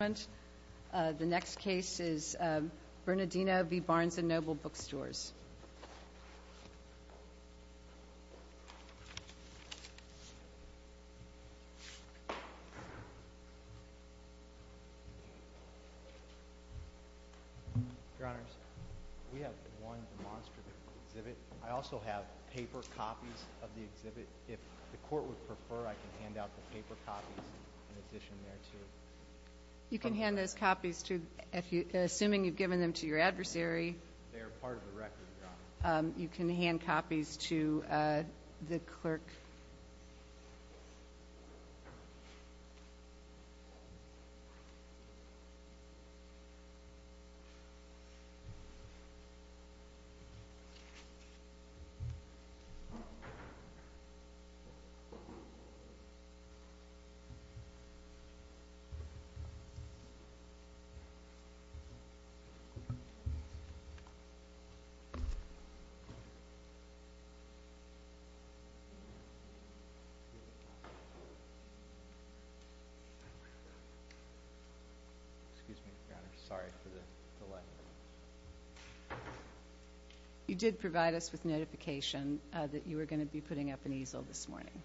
The next case is Bernardino v. Barnes & Noble Bookstores. Your Honors, we have one demonstrative exhibit. I also have paper copies of the exhibit. If the Court would prefer, I can hand out the paper copies in addition there too. They are part of the record, Your Honors. Excuse me, Your Honors. Sorry for the delay. You did provide us with notification that you were going to be putting up an easel this morning.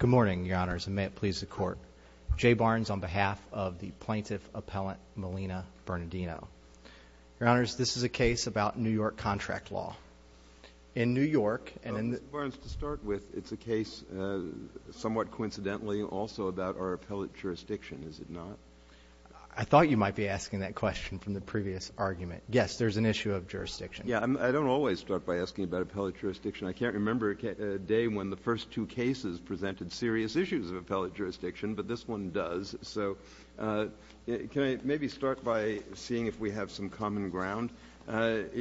Good morning, Your Honors, and may it please the Court. J. Barnes on behalf of the Plaintiff Appellant Melina Bernardino. Your Honors, this is a case about New York contract law. In New York, and in the Barnes, to start with, it's a case somewhat coincidentally also about our appellate jurisdiction, is it not? I thought you might be asking that question from the previous argument. Yes, there's an issue of jurisdiction. Yeah, I don't always start by asking about appellate jurisdiction. I can't remember a day when the first two cases presented serious issues of appellate jurisdiction, but this one does. So can I maybe start by seeing if we have some common ground? Do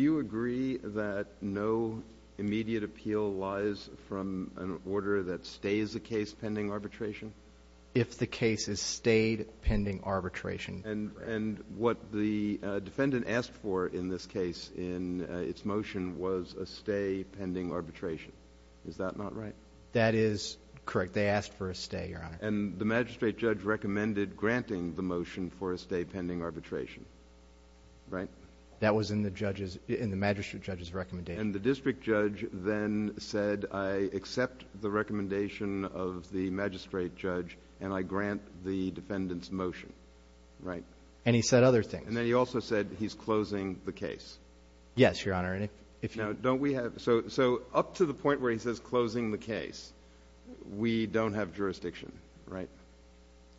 you agree that no immediate appeal lies from an order that stays a case pending arbitration? If the case is stayed pending arbitration. And what the defendant asked for in this case in its motion was a stay pending arbitration. Is that not right? That is correct. They asked for a stay, Your Honor. And the magistrate judge recommended granting the motion for a stay pending arbitration, right? That was in the magistrate judge's recommendation. And the district judge then said I accept the recommendation of the magistrate judge and I grant the defendant's motion, right? And he said other things. And then he also said he's closing the case. Yes, Your Honor. Now, don't we have – so up to the point where he says closing the case, we don't have jurisdiction, right?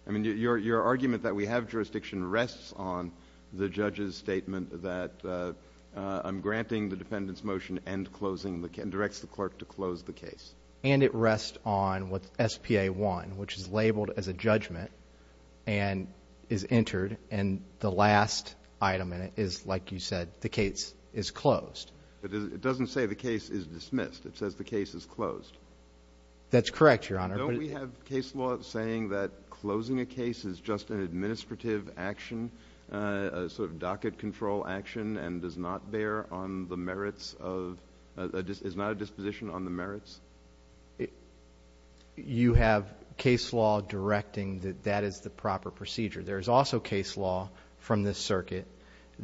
I mean, your argument that we have jurisdiction rests on the judge's statement that I'm granting the defendant's motion and closing – and directs the clerk to close the case. And it rests on what SPA 1, which is labeled as a judgment and is entered, and the last item in it is, like you said, the case is closed. But it doesn't say the case is dismissed. It says the case is closed. That's correct, Your Honor. Don't we have case law saying that closing a case is just an administrative action, a sort of docket control action, and does not bear on the merits of – is not a disposition on the merits? You have case law directing that that is the proper procedure. There is also case law from this circuit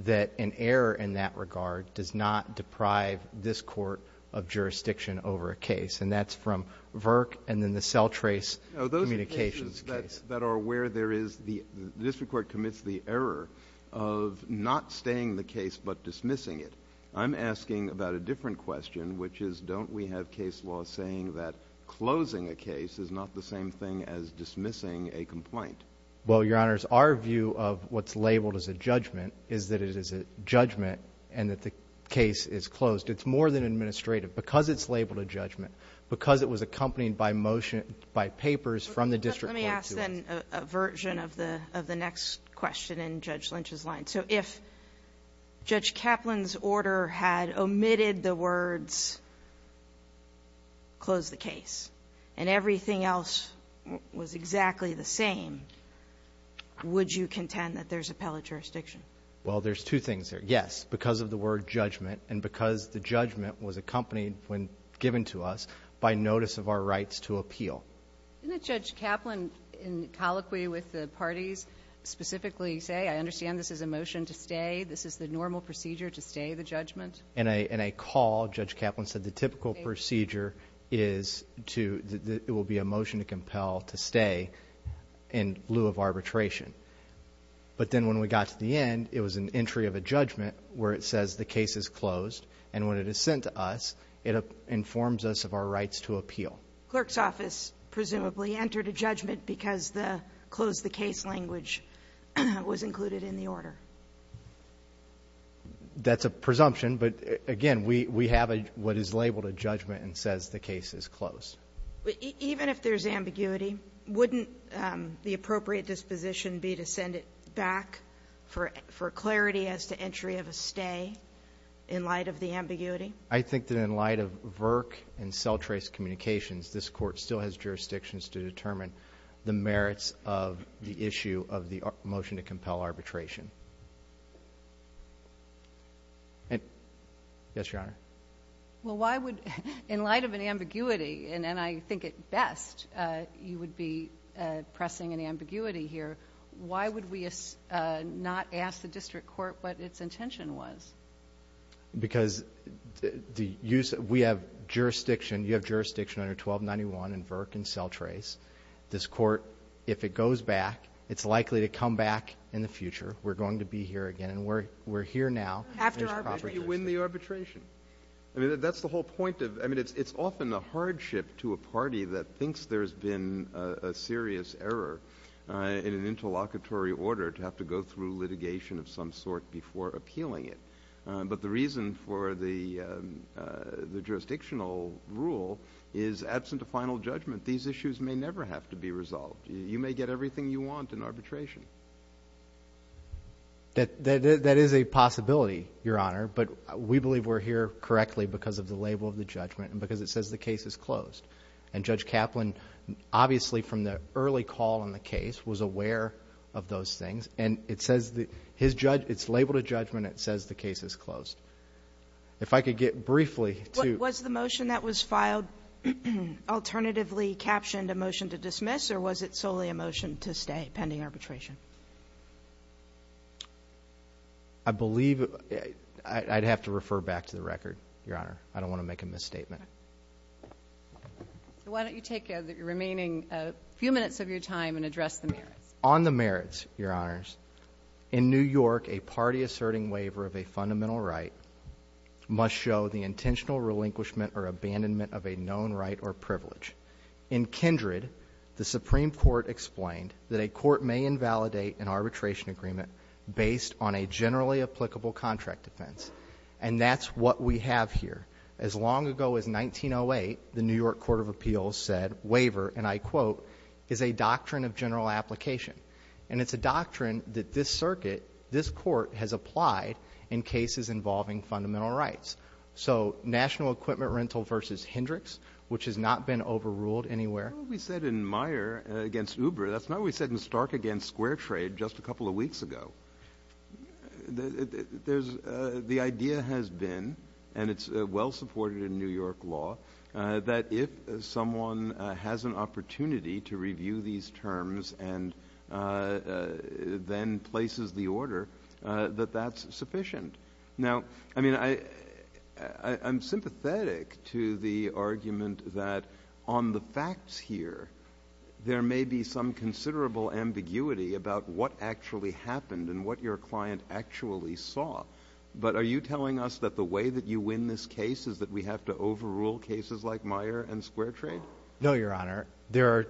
that an error in that regard does not deprive this court of jurisdiction over a case. And that's from VRC and then the cell trace communications case. Now, those are cases that are where there is – the district court commits the error of not staying the case but dismissing it. I'm asking about a different question, which is don't we have case law saying that closing a case is not the same thing as dismissing a complaint? Well, Your Honors, our view of what's labeled as a judgment is that it is a judgment and that the case is closed. It's more than administrative. Because it's labeled a judgment, because it was accompanied by motion – by papers from the district court to us. But let me ask, then, a version of the next question in Judge Lynch's line. So if Judge Kaplan's order had omitted the words, close the case, and everything else was exactly the same, would you contend that there's appellate jurisdiction? Well, there's two things there. Yes, because of the word judgment and because the judgment was accompanied when given to us by notice of our rights to appeal. Didn't Judge Kaplan, in colloquy with the parties, specifically say, I understand this is a motion to stay, this is the normal procedure to stay the judgment? In a call, Judge Kaplan said the typical procedure is to – it will be a motion to compel to stay in lieu of arbitration. But then when we got to the end, it was an entry of a judgment where it says the case is closed. And when it is sent to us, it informs us of our rights to appeal. Clerk's office presumably entered a judgment because the close the case language was included in the order. That's a presumption. But, again, we have what is labeled a judgment and says the case is closed. Even if there's ambiguity, wouldn't the appropriate disposition be to send it back for clarity as to entry of a stay in light of the ambiguity? I think that in light of VERC and cell trace communications, this Court still has jurisdictions to determine the merits of the issue of the motion to compel arbitration. Yes, Your Honor. Well, why would – in light of an ambiguity, and I think at best you would be pressing an ambiguity here, why would we not ask the district court what its intention was? Because we have jurisdiction, you have jurisdiction under 1291 in VERC and cell trace. This Court, if it goes back, it's likely to come back in the future. We're going to be here again, and we're here now. After arbitration. You win the arbitration. I mean, that's the whole point of – I mean, it's often a hardship to a party that thinks there's been a serious error in an interlocutory order to have to go through litigation of some sort before appealing it. But the reason for the jurisdictional rule is absent of final judgment. These issues may never have to be resolved. You may get everything you want in arbitration. That is a possibility, Your Honor. But we believe we're here correctly because of the label of the judgment and because it says the case is closed. And Judge Kaplan, obviously from the early call on the case, was aware of those things. And it says his judge – it's labeled a judgment. It says the case is closed. If I could get briefly to – Was the motion that was filed alternatively captioned a motion to dismiss or was it solely a motion to stay pending arbitration? I believe I'd have to refer back to the record, Your Honor. I don't want to make a misstatement. Why don't you take the remaining few minutes of your time and address the merits. On the merits, Your Honors, in New York, a party asserting waiver of a fundamental right must show the intentional relinquishment or abandonment of a known right or privilege. In Kindred, the Supreme Court explained that a court may invalidate an arbitration agreement based on a generally applicable contract defense. And that's what we have here. As long ago as 1908, the New York Court of Appeals said waiver, and I quote, is a doctrine of general application. And it's a doctrine that this circuit, this court, has applied in cases involving fundamental rights. So national equipment rental versus Hendricks, which has not been overruled anywhere. That's not what we said in Meyer against Uber. That's not what we said in Stark against Square Trade just a couple of weeks ago. The idea has been, and it's well supported in New York law, that if someone has an opportunity to review these terms and then places the order, that that's sufficient. Now, I mean, I'm sympathetic to the argument that on the facts here, there may be some considerable ambiguity about what actually happened and what your client actually saw. But are you telling us that the way that you win this case is that we have to overrule cases like Meyer and Square Trade? No, Your Honor.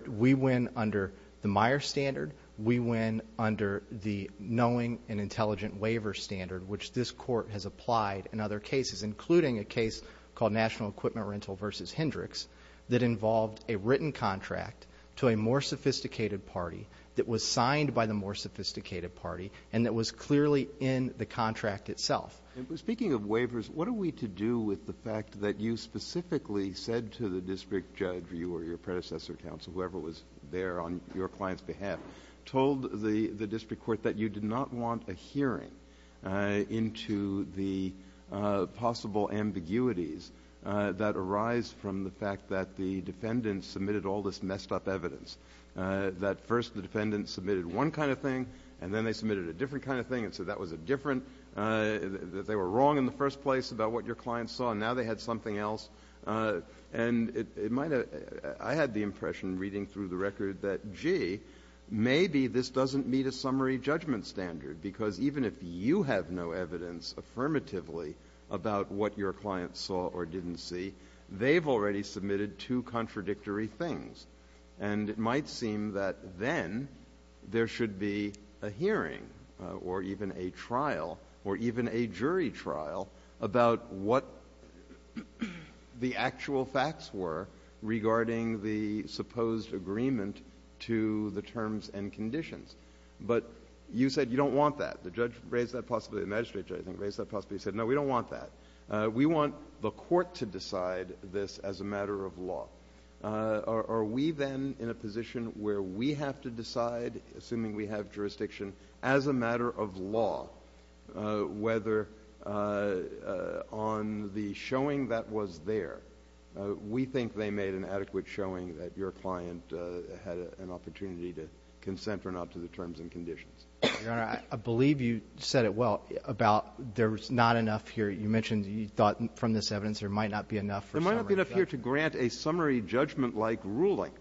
We win under the Meyer standard. We win under the knowing and intelligent waiver standard, which this court has applied in other cases, including a case called national equipment rental versus Hendricks that involved a written contract to a more sophisticated party that was signed by the more sophisticated party and that was clearly in the contract itself. And speaking of waivers, what are we to do with the fact that you specifically said to the district judge or you or your predecessor counsel, whoever was there on your client's behalf, told the district court that you did not want a hearing into the possible ambiguities that arise from the fact that the defendant submitted all this messed up evidence, that first the defendant submitted one kind of thing and then they submitted a different kind of thing and so that was a different, that they were wrong in the first place about what your client saw and now they had something else. And it might have, I had the impression reading through the record that, gee, maybe this doesn't meet a summary judgment standard because even if you have no evidence affirmatively about what your client saw or didn't see, they've already submitted two contradictory things. And it might seem that then there should be a hearing or even a trial or even a jury trial about what the actual facts were regarding the supposed agreement to the terms and conditions. But you said you don't want that. The judge raised that possibly, the magistrate judge raised that possibly. He said, no, we don't want that. We want the court to decide this as a matter of law. Are we then in a position where we have to decide, assuming we have jurisdiction, as a matter of law whether on the showing that was there, we think they made an adequate showing that your client had an opportunity to consent or not to the terms and conditions? Your Honor, I believe you said it well about there's not enough here. You mentioned you thought from this evidence there might not be enough for summary judgment. There might not be enough here to grant a summary judgment-like ruling.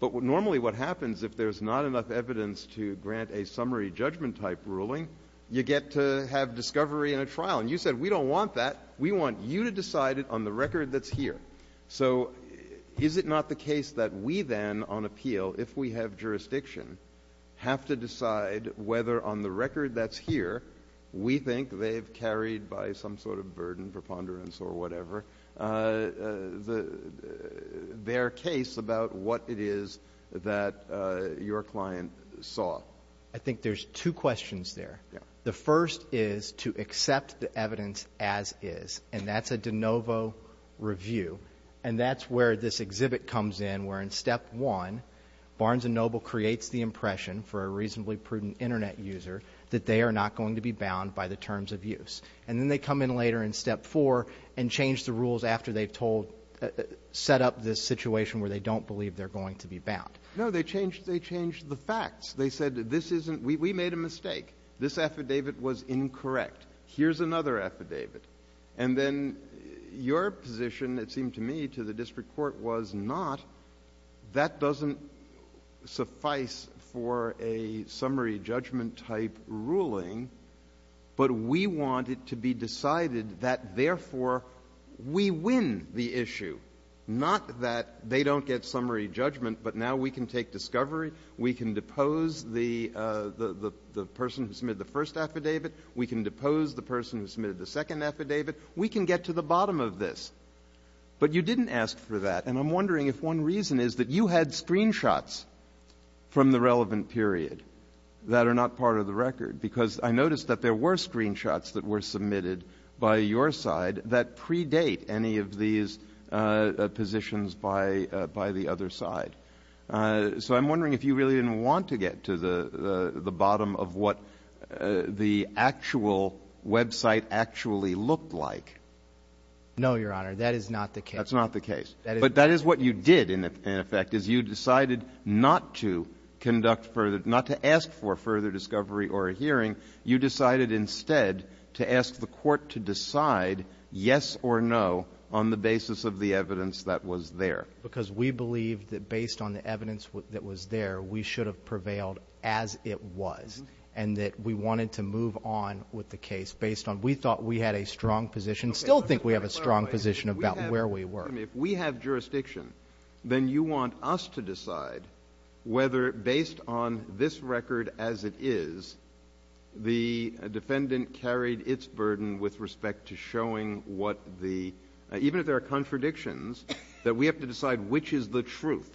But normally what happens, if there's not enough evidence to grant a summary judgment-type ruling, you get to have discovery in a trial. And you said we don't want that. We want you to decide it on the record that's here. So is it not the case that we then on appeal, if we have jurisdiction, have to decide whether on the record that's here, we think they've carried by some sort of burden for ponderance or whatever their case about what it is that your client saw? I think there's two questions there. The first is to accept the evidence as is. And that's a de novo review. And that's where this exhibit comes in, where in step one Barnes & Noble creates the impression for a reasonably prudent Internet user that they are not going to be bound by the terms of use. And then they come in later in step four and change the rules after they've told, set up this situation where they don't believe they're going to be bound. No, they changed the facts. They said this isn't, we made a mistake. This affidavit was incorrect. Here's another affidavit. And then your position, it seemed to me, to the district court was not, that doesn't suffice for a summary judgment type ruling, but we want it to be decided that, therefore, we win the issue. Not that they don't get summary judgment, but now we can take discovery, we can depose the person who submitted the first affidavit, we can depose the person who submitted the second affidavit. We can get to the bottom of this. But you didn't ask for that. And I'm wondering if one reason is that you had screenshots from the relevant period that are not part of the record, because I noticed that there were screenshots that were submitted by your side that predate any of these positions by the other side. So I'm wondering if you really didn't want to get to the bottom of what the actual website actually looked like. No, Your Honor. That is not the case. That's not the case. But that is what you did, in effect, is you decided not to conduct further, not to ask for further discovery or a hearing. You decided instead to ask the court to decide yes or no on the basis of the evidence that was there. Because we believe that based on the evidence that was there, we should have prevailed as it was and that we wanted to move on with the case based on we thought we had a strong position, still think we have a strong position about where we were. If we have jurisdiction, then you want us to decide whether, based on this record as it is, the defendant carried its burden with respect to showing what the — even if there are contradictions, that we have to decide which is the truth.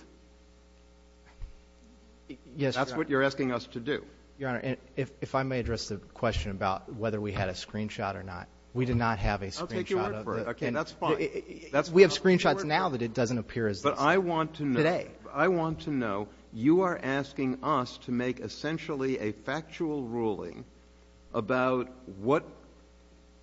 Yes, Your Honor. That's what you're asking us to do. Your Honor, if I may address the question about whether we had a screenshot or not. We did not have a screenshot. I'll take your word for it. Okay, that's fine. We have screenshots now that it doesn't appear as this. But I want to know. Today. I want to know. You are asking us to make essentially a factual ruling about what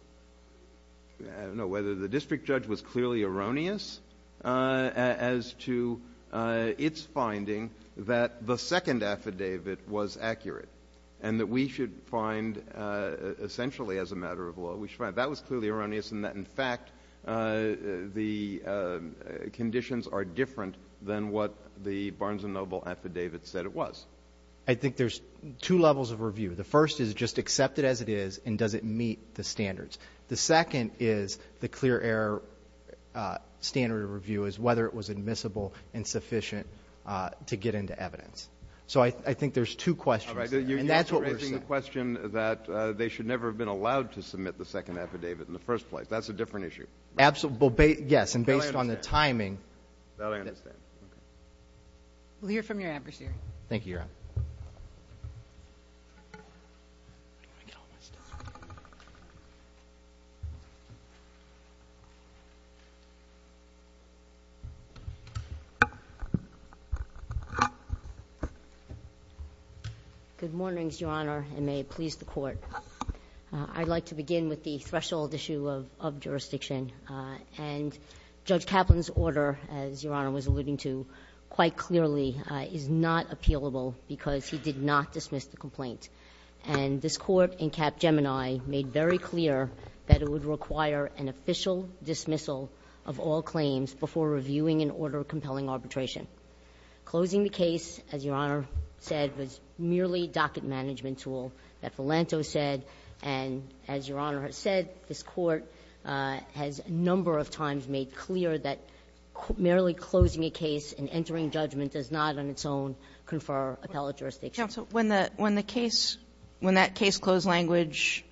— I don't know whether the district judge was clearly erroneous as to its finding that the second affidavit was accurate and that we should find, essentially as a matter of law, we should find that was clearly erroneous and that, in fact, the conditions are different than what the Barnes & Noble affidavit said it was. I think there's two levels of review. The first is just accept it as it is and does it meet the standards. The second is the clear error standard of review is whether it was admissible and sufficient to get into evidence. So I think there's two questions there. And that's what we're saying. All right. You're raising the question that they should never have been allowed to submit the second affidavit in the first place. That's a different issue. Absolutely. Yes. And based on the timing. That I understand. Okay. We'll hear from your adversary. Thank you, Your Honor. Good morning, Your Honor, and may it please the Court. I'd like to begin with the threshold issue of jurisdiction. And Judge Kaplan's order, as Your Honor was alluding to quite clearly, is not appealable because he did not dismiss the complaint. And this Court in Cap Gemini made very clear that it would require an official dismissal of all claims before reviewing an order of compelling arbitration. Closing the case, as Your Honor said, was merely a docket management tool that Philanto said. And as Your Honor has said, this Court has a number of times made clear that merely closing a case and entering judgment does not on its own confer appellate jurisdiction. Counsel, when the case – when that case-closed language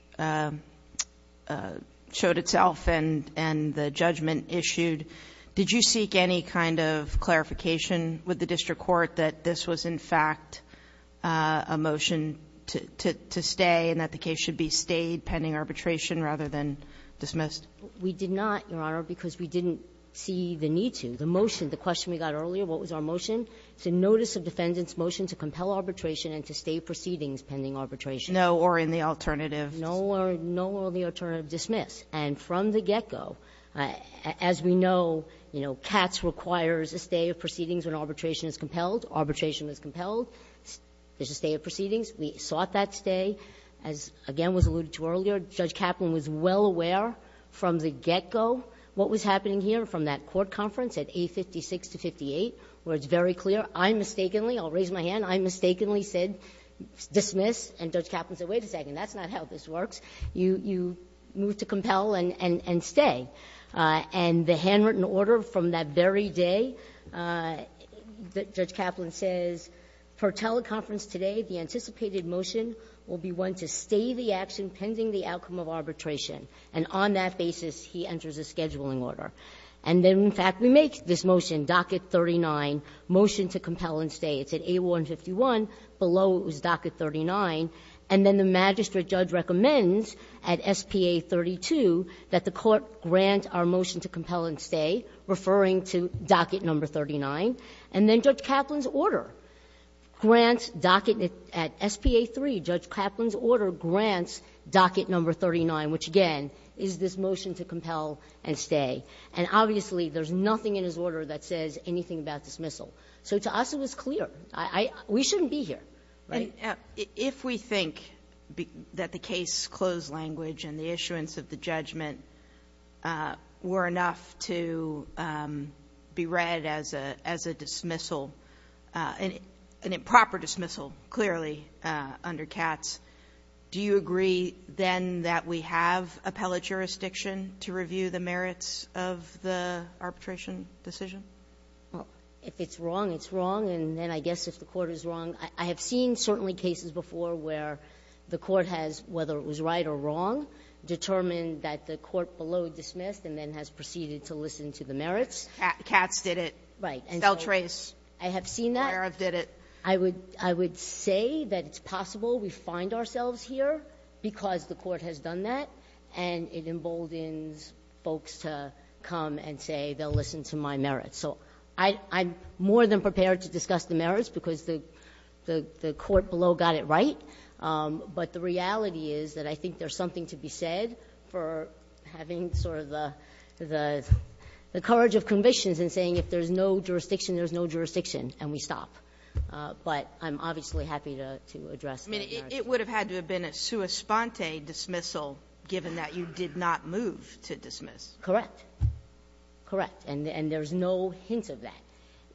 showed itself and the judgment issued, did you seek any kind of clarification with the district court that this was in fact a motion to stay and that the case should be stayed pending arbitration rather than dismissed? We did not, Your Honor, because we didn't see the need to. The motion, the question we got earlier, what was our motion? It's a notice of defendant's motion to compel arbitration and to stay proceedings pending arbitration. No or in the alternative. No or in the alternative. Dismiss. And from the get-go, as we know, you know, Katz requires a stay of proceedings when arbitration is compelled. Arbitration is compelled. There's a stay of proceedings. We sought that stay. As, again, was alluded to earlier, Judge Kaplan was well aware from the get-go what was happening here from that court conference at A56 to 58 where it's very clear. I mistakenly – I'll raise my hand – I mistakenly said dismiss. And Judge Kaplan said, wait a second, that's not how this works. You move to compel and stay. And the handwritten order from that very day, Judge Kaplan says, per teleconference today, the anticipated motion will be one to stay the action pending the outcome of arbitration. And on that basis, he enters a scheduling order. And then, in fact, we make this motion, docket 39, motion to compel and stay. It's at A151. Below it was docket 39. And then the magistrate judge recommends at SPA 32 that the court grant our motion to compel and stay, referring to docket number 39. And then Judge Kaplan's order grants docket at SPA 3. And Judge Kaplan's order grants docket number 39, which, again, is this motion to compel and stay. And obviously, there's nothing in his order that says anything about dismissal. So to us, it was clear. We shouldn't be here. Right? If we think that the case closed language and the issuance of the judgment were enough to be read as a dismissal, an improper dismissal, clearly, under Katz, do you agree then that we have appellate jurisdiction to review the merits of the arbitration decision? Well, if it's wrong, it's wrong. And then I guess if the court is wrong, I have seen certainly cases before where the court has, whether it was right or wrong, determined that the court below dismissed and then has proceeded to listen to the merits. Katz did it. Right. And so I have seen that. Breyer did it. I would say that it's possible we find ourselves here because the court has done that, and it emboldens folks to come and say they'll listen to my merits. So I'm more than prepared to discuss the merits because the court below got it right. But the reality is that I think there's something to be said for having sort of the courage of convictions in saying if there's no jurisdiction, there's no jurisdiction, and we stop. But I'm obviously happy to address that. I mean, it would have had to have been a sua sponte dismissal, given that you did not move to dismiss. Correct. Correct. And there's no hint of that.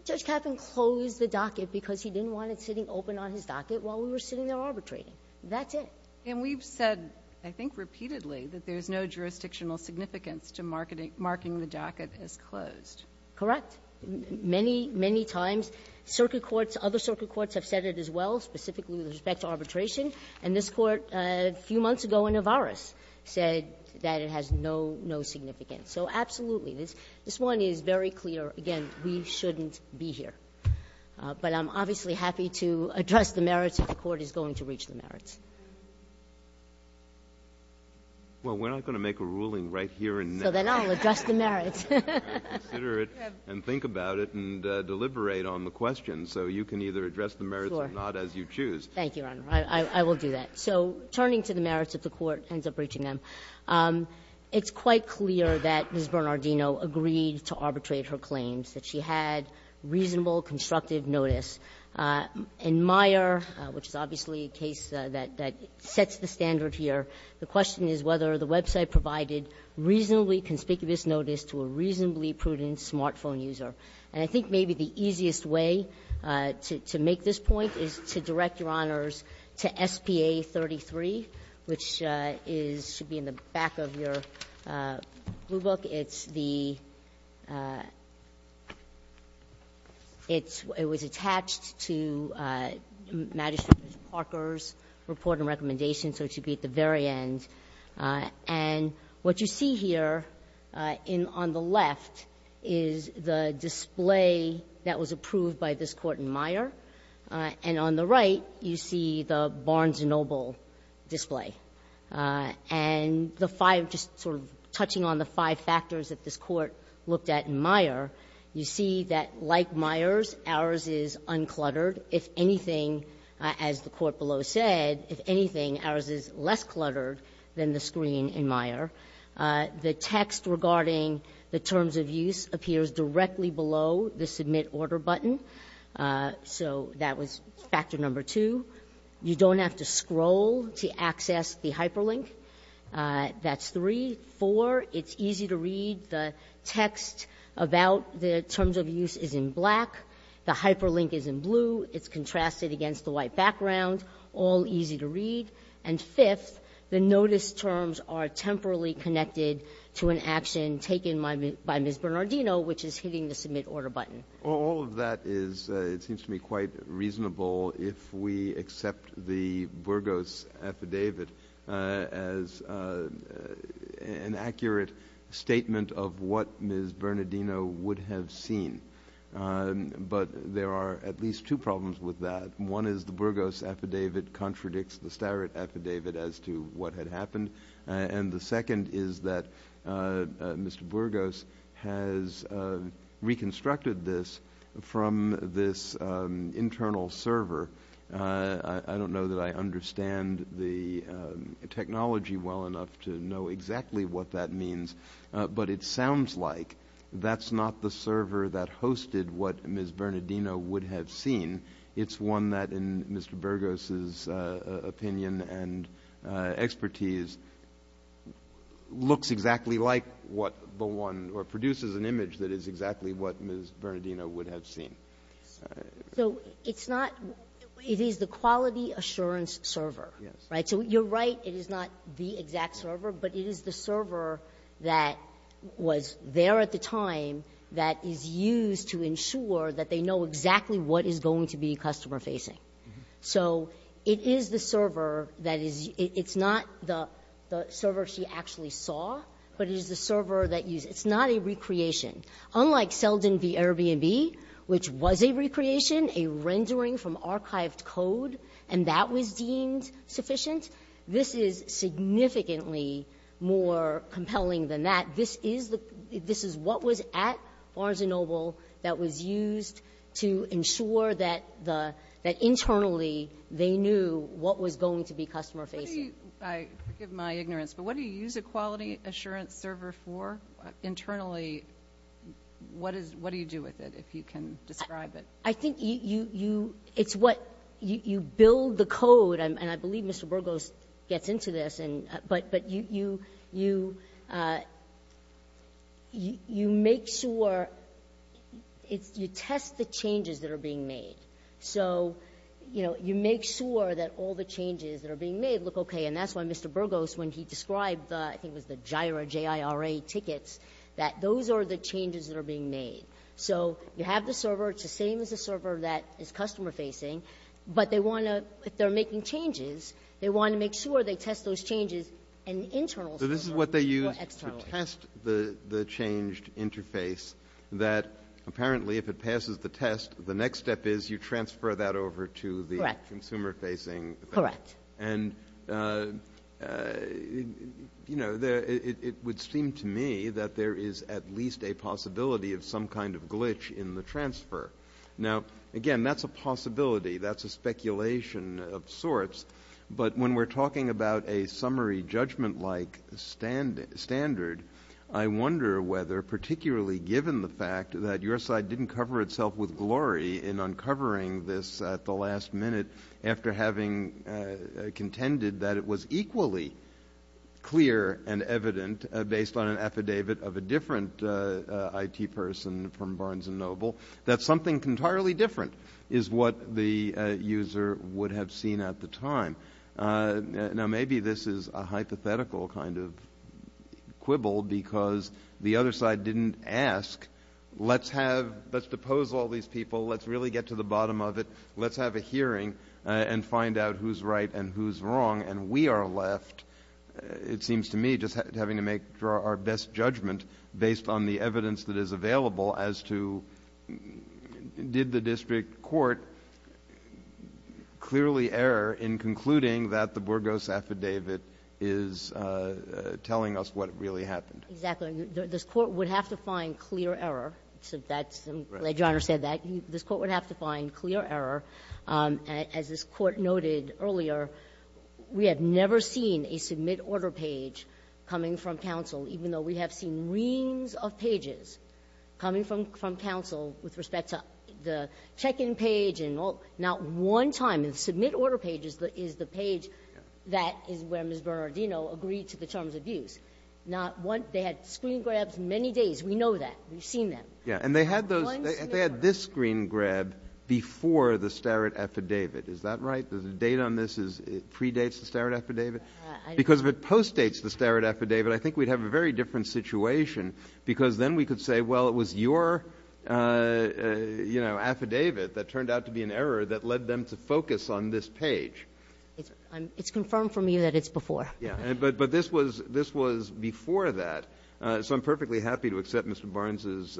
Judge Kaffen closed the docket because he didn't want it sitting open on his docket while we were sitting there arbitrating. That's it. And we've said, I think repeatedly, that there's no jurisdictional significance to marking the docket as closed. Correct. Many, many times circuit courts, other circuit courts have said it as well, specifically with respect to arbitration. And this Court a few months ago in Avaris said that it has no significance. So absolutely. This one is very clear. Again, we shouldn't be here. But I'm obviously happy to address the merits if the Court is going to reach the merits. Well, we're not going to make a ruling right here and now. So then I'll address the merits. Consider it and think about it and deliberate on the questions. So you can either address the merits or not as you choose. Thank you, Your Honor. I will do that. So turning to the merits if the Court ends up reaching them, it's quite clear that to arbitrate her claims, that she had reasonable constructive notice. In Meyer, which is obviously a case that sets the standard here, the question is whether the website provided reasonably conspicuous notice to a reasonably prudent smartphone user. And I think maybe the easiest way to make this point is to direct, Your Honors, to SPA 33, which is to be in the back of your blue book. It's the – it's – it was attached to Magistrate Parker's report and recommendation, so it should be at the very end. And what you see here in – on the left is the display that was approved by this Court in Meyer, and on the right you see the Barnes & Noble display. And the five – just sort of touching on the five factors that this Court looked at in Meyer, you see that like Meyer's, ours is uncluttered. If anything, as the Court below said, if anything, ours is less cluttered than the screen in Meyer. The text regarding the terms of use appears directly below the Submit Order button, so that was factor number two. You don't have to scroll to access the hyperlink. That's three. Four, it's easy to read. The text about the terms of use is in black. The hyperlink is in blue. It's contrasted against the white background. All easy to read. And fifth, the notice terms are temporally connected to an action taken by Ms. Bernardino, which is hitting the Submit Order button. All of that is, it seems to me, quite reasonable if we accept the Burgos affidavit as an accurate statement of what Ms. Bernardino would have seen. But there are at least two problems with that. One is the Burgos affidavit contradicts the Starrett affidavit as to what had happened. And the second is that Mr. Burgos has reconstructed this from this internal server. I don't know that I understand the technology well enough to know exactly what that means, but it sounds like that's not the server that hosted what Ms. Bernardino would have seen. It's one that, in Mr. Burgos' opinion and expertise, looks exactly like what the one or produces an image that is exactly what Ms. Bernardino would have seen. So it's not the quality assurance server, right? So you're right. It is not the exact server, but it is the server that was there at the time that is used to ensure that they know exactly what is going to be customer-facing. So it is the server that is, it's not the server she actually saw, but it is the server that used, it's not a recreation. Unlike Selden v. Airbnb, which was a recreation, a rendering from archived code, and that was deemed sufficient, this is significantly more compelling than that. This is what was at Barnes & Noble that was used to ensure that internally they knew what was going to be customer-facing. I forgive my ignorance, but what do you use a quality assurance server for internally? What do you do with it, if you can describe it? I think it's what you build the code, and I believe Mr. Burgos gets into this, but you make sure, you test the changes that are being made. So, you know, you make sure that all the changes that are being made look okay, and that's why Mr. Burgos, when he described the, I think it was the JIRA, J-I-R-A tickets, that those are the changes that are being made. So you have the server, it's the same as the server that is customer-facing, but they want to, if they're making changes, they want to make sure they test those changes in the internal server more externally. So this is what they use to test the changed interface, that apparently if it passes the test, the next step is you transfer that over to the consumer-facing thing. Correct. Correct. And, you know, it would seem to me that there is at least a possibility of some kind of glitch in the transfer. Now, again, that's a possibility. That's a speculation of sorts. But when we're talking about a summary judgment-like standard, I wonder whether particularly given the fact that your side didn't cover itself with glory in uncovering this at the last minute after having contended that it was equally clear and evident based on an affidavit of a different IT person from Barnes & Noble, that something entirely different is what the user would have seen at the time. Now, maybe this is a hypothetical kind of quibble because the other side didn't ask, let's depose all these people, let's really get to the bottom of it, let's have a hearing and find out who's right and who's wrong, and we are left, it seems to me, just having to make our best judgment based on the evidence that is there. Alito, did the district court clearly err in concluding that the Burgos affidavit is telling us what really happened? Exactly. This Court would have to find clear error. So that's why Your Honor said that. This Court would have to find clear error. As this Court noted earlier, we have never seen a submit order page coming from counsel, even though we have seen reams of pages coming from counsel with respect to the check-in page and all. Not one time in submit order pages is the page that is where Ms. Bernardino agreed to the terms of use. Not one. They had screen grabs many days. We know that. We've seen them. Yeah. And they had this screen grab before the Starrett affidavit. Is that right? Does the date on this predate the Starrett affidavit? Because if it postdates the Starrett affidavit, I think we'd have a very different situation because then we could say, well, it was your, you know, affidavit that turned out to be an error that led them to focus on this page. It's confirmed from you that it's before. Yeah. But this was before that. So I'm perfectly happy to accept Mr. Barnes's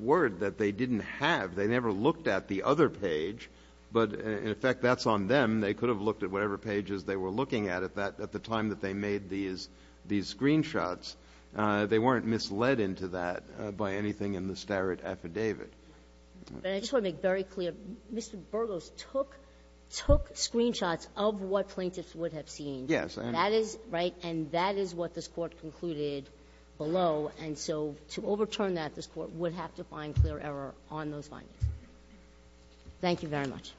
word that they didn't have. They never looked at the other page. But, in effect, that's on them. They could have looked at whatever pages they were looking at at that at the time that they made these screen shots. They weren't misled into that by anything in the Starrett affidavit. But I just want to make very clear. Mr. Burgos took screen shots of what plaintiffs would have seen. Yes. And that is, right, and that is what this Court concluded below. And so to overturn that, this Court would have to find clear error on those findings. Thank you very much.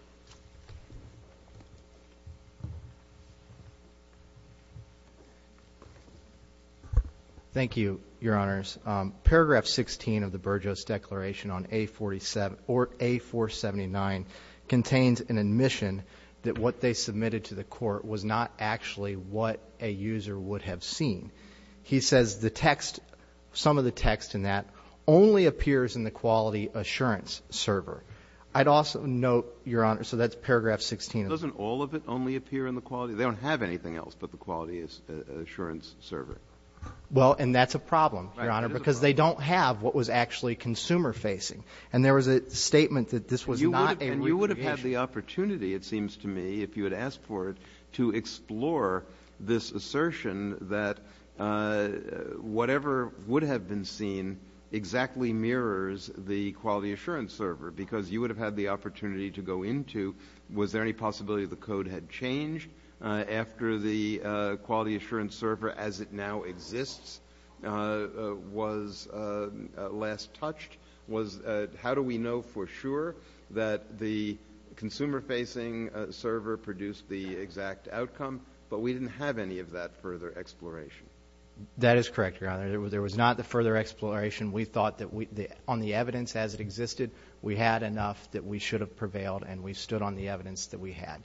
Thank you, Your Honors. Paragraph 16 of the Burgos Declaration on A479 contains an admission that what they submitted to the Court was not actually what a user would have seen. He says the text, some of the text in that, only appears in the quality assurance server. I'd also note, Your Honor, so that's paragraph 16. Doesn't all of it only appear in the quality? They don't have anything else but the quality assurance server. Well, and that's a problem, Your Honor, because they don't have what was actually consumer-facing. And there was a statement that this was not a real application. And you would have had the opportunity, it seems to me, if you had asked for it, to explore this assertion that whatever would have been seen exactly mirrors the quality assurance server, because you would have had the opportunity to go into, was there any possibility the code had changed after the quality assurance server, as it now exists, was last touched? How do we know for sure that the consumer-facing server produced the exact outcome? But we didn't have any of that further exploration. That is correct, Your Honor. There was not the further exploration. We thought that on the evidence as it existed we had enough that we should have prevailed and we stood on the evidence that we had.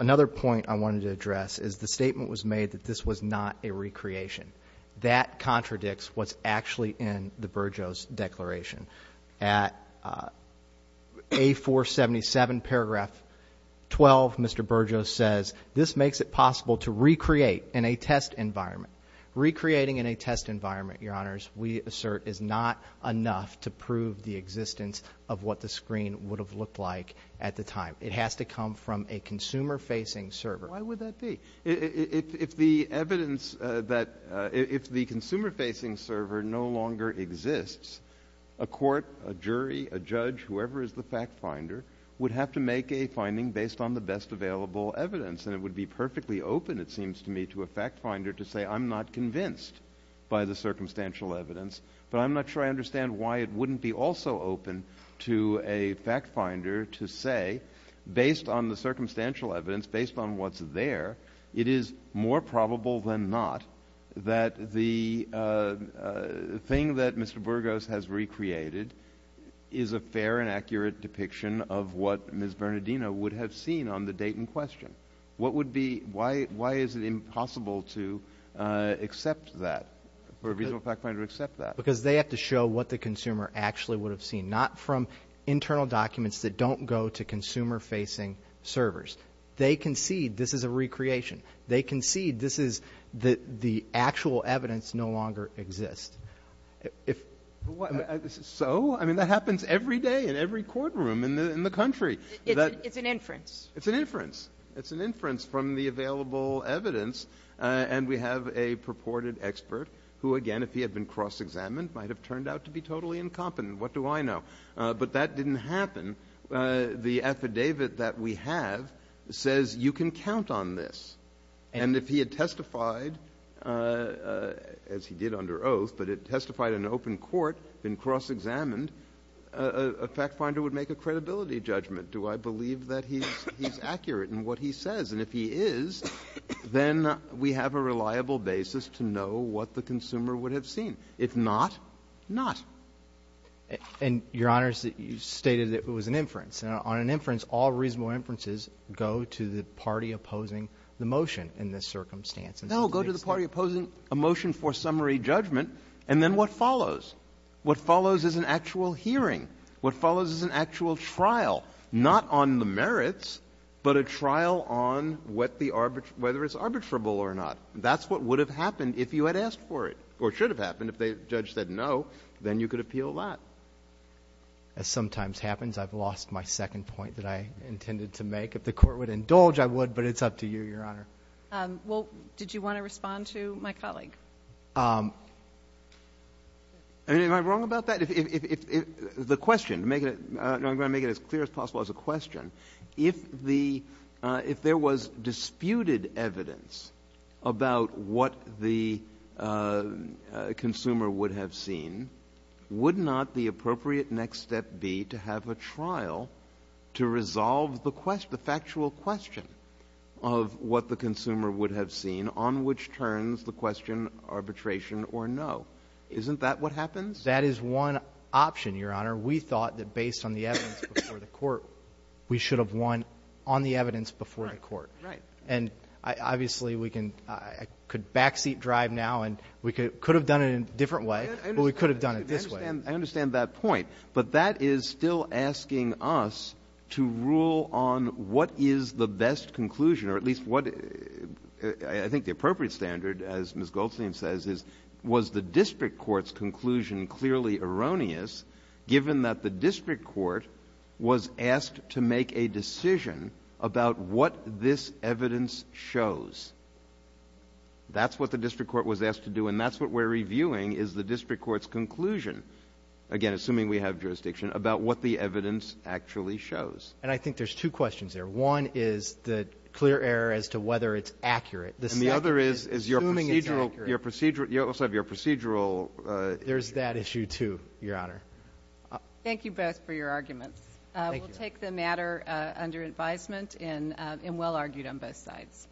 Another point I wanted to address is the statement was made that this was not a recreation. That contradicts what's actually in the Burgos Declaration. At A-477, paragraph 12, Mr. Burgos says, this makes it possible to recreate in a test environment. Recreating in a test environment, Your Honors, we assert is not enough to prove the existence of what the screen would have looked like at the time. It has to come from a consumer-facing server. Why would that be? If the evidence that the consumer-facing server no longer exists, a court, a jury, a judge, whoever is the fact finder, would have to make a finding based on the best available evidence and it would be perfectly open, it seems to me, to a fact finder to say, I'm not convinced by the circumstantial evidence, but I'm not sure I understand why it wouldn't be also open to a fact finder to say, based on the circumstantial evidence, based on what's there, it is more probable than not that the thing that Mr. Burgos has recreated is a fair and accurate depiction of what Ms. Bernardino would have seen on the date in question. What would be, why is it impossible to accept that, for a reasonable fact finder to accept that? Because they have to show what the consumer actually would have seen, not from internal documents that don't go to consumer-facing servers. They concede this is a recreation. They concede this is the actual evidence no longer exists. So? I mean, that happens every day in every courtroom in the country. It's an inference. It's an inference. It's an inference from the available evidence. And we have a purported expert who, again, if he had been cross-examined, might have turned out to be totally incompetent. What do I know? But that didn't happen. The affidavit that we have says you can count on this. And if he had testified, as he did under oath, but had testified in open court, been cross-examined, a fact finder would make a credibility judgment. Do I believe that he's accurate in what he says? And if he is, then we have a reliable basis to know what the consumer would have seen. If not, not. And, Your Honors, you stated that it was an inference. And on an inference, all reasonable inferences go to the party opposing the motion in this circumstance. No. Go to the party opposing a motion for summary judgment, and then what follows? What follows is an actual hearing. What follows is an actual trial, not on the merits, but a trial on whether it's arbitrable or not. That's what would have happened if you had asked for it, or should have happened if the judge said no. Then you could appeal that. As sometimes happens, I've lost my second point that I intended to make. If the Court would indulge, I would, but it's up to you, Your Honor. Well, did you want to respond to my colleague? Am I wrong about that? If the question, to make it as clear as possible as a question, if there was disputed evidence about what the consumer would have seen, would not the appropriate next step be to have a trial to resolve the factual question of what the consumer would have seen on which turns the question arbitration or no? Isn't that what happens? That is one option, Your Honor. We thought that based on the evidence before the Court, we should have won on the evidence before the Court. Right. And obviously, we can – I could backseat drive now and we could have done it in a different way, but we could have done it this way. I understand that point. But that is still asking us to rule on what is the best conclusion, or at least what – I think the appropriate standard, as Ms. Goldstein says, is was the district court's conclusion clearly erroneous, given that the district court was asked to make a decision about what this evidence shows. That's what the district court was asked to do, and that's what we're reviewing is the district court's conclusion, again, assuming we have jurisdiction, about what the evidence actually shows. And I think there's two questions there. One is the clear error as to whether it's accurate. And the other is, is your procedural – you also have your procedural issue. There's that issue, too, Your Honor. Thank you both for your arguments. Thank you. It's a matter under advisement and well-argued on both sides.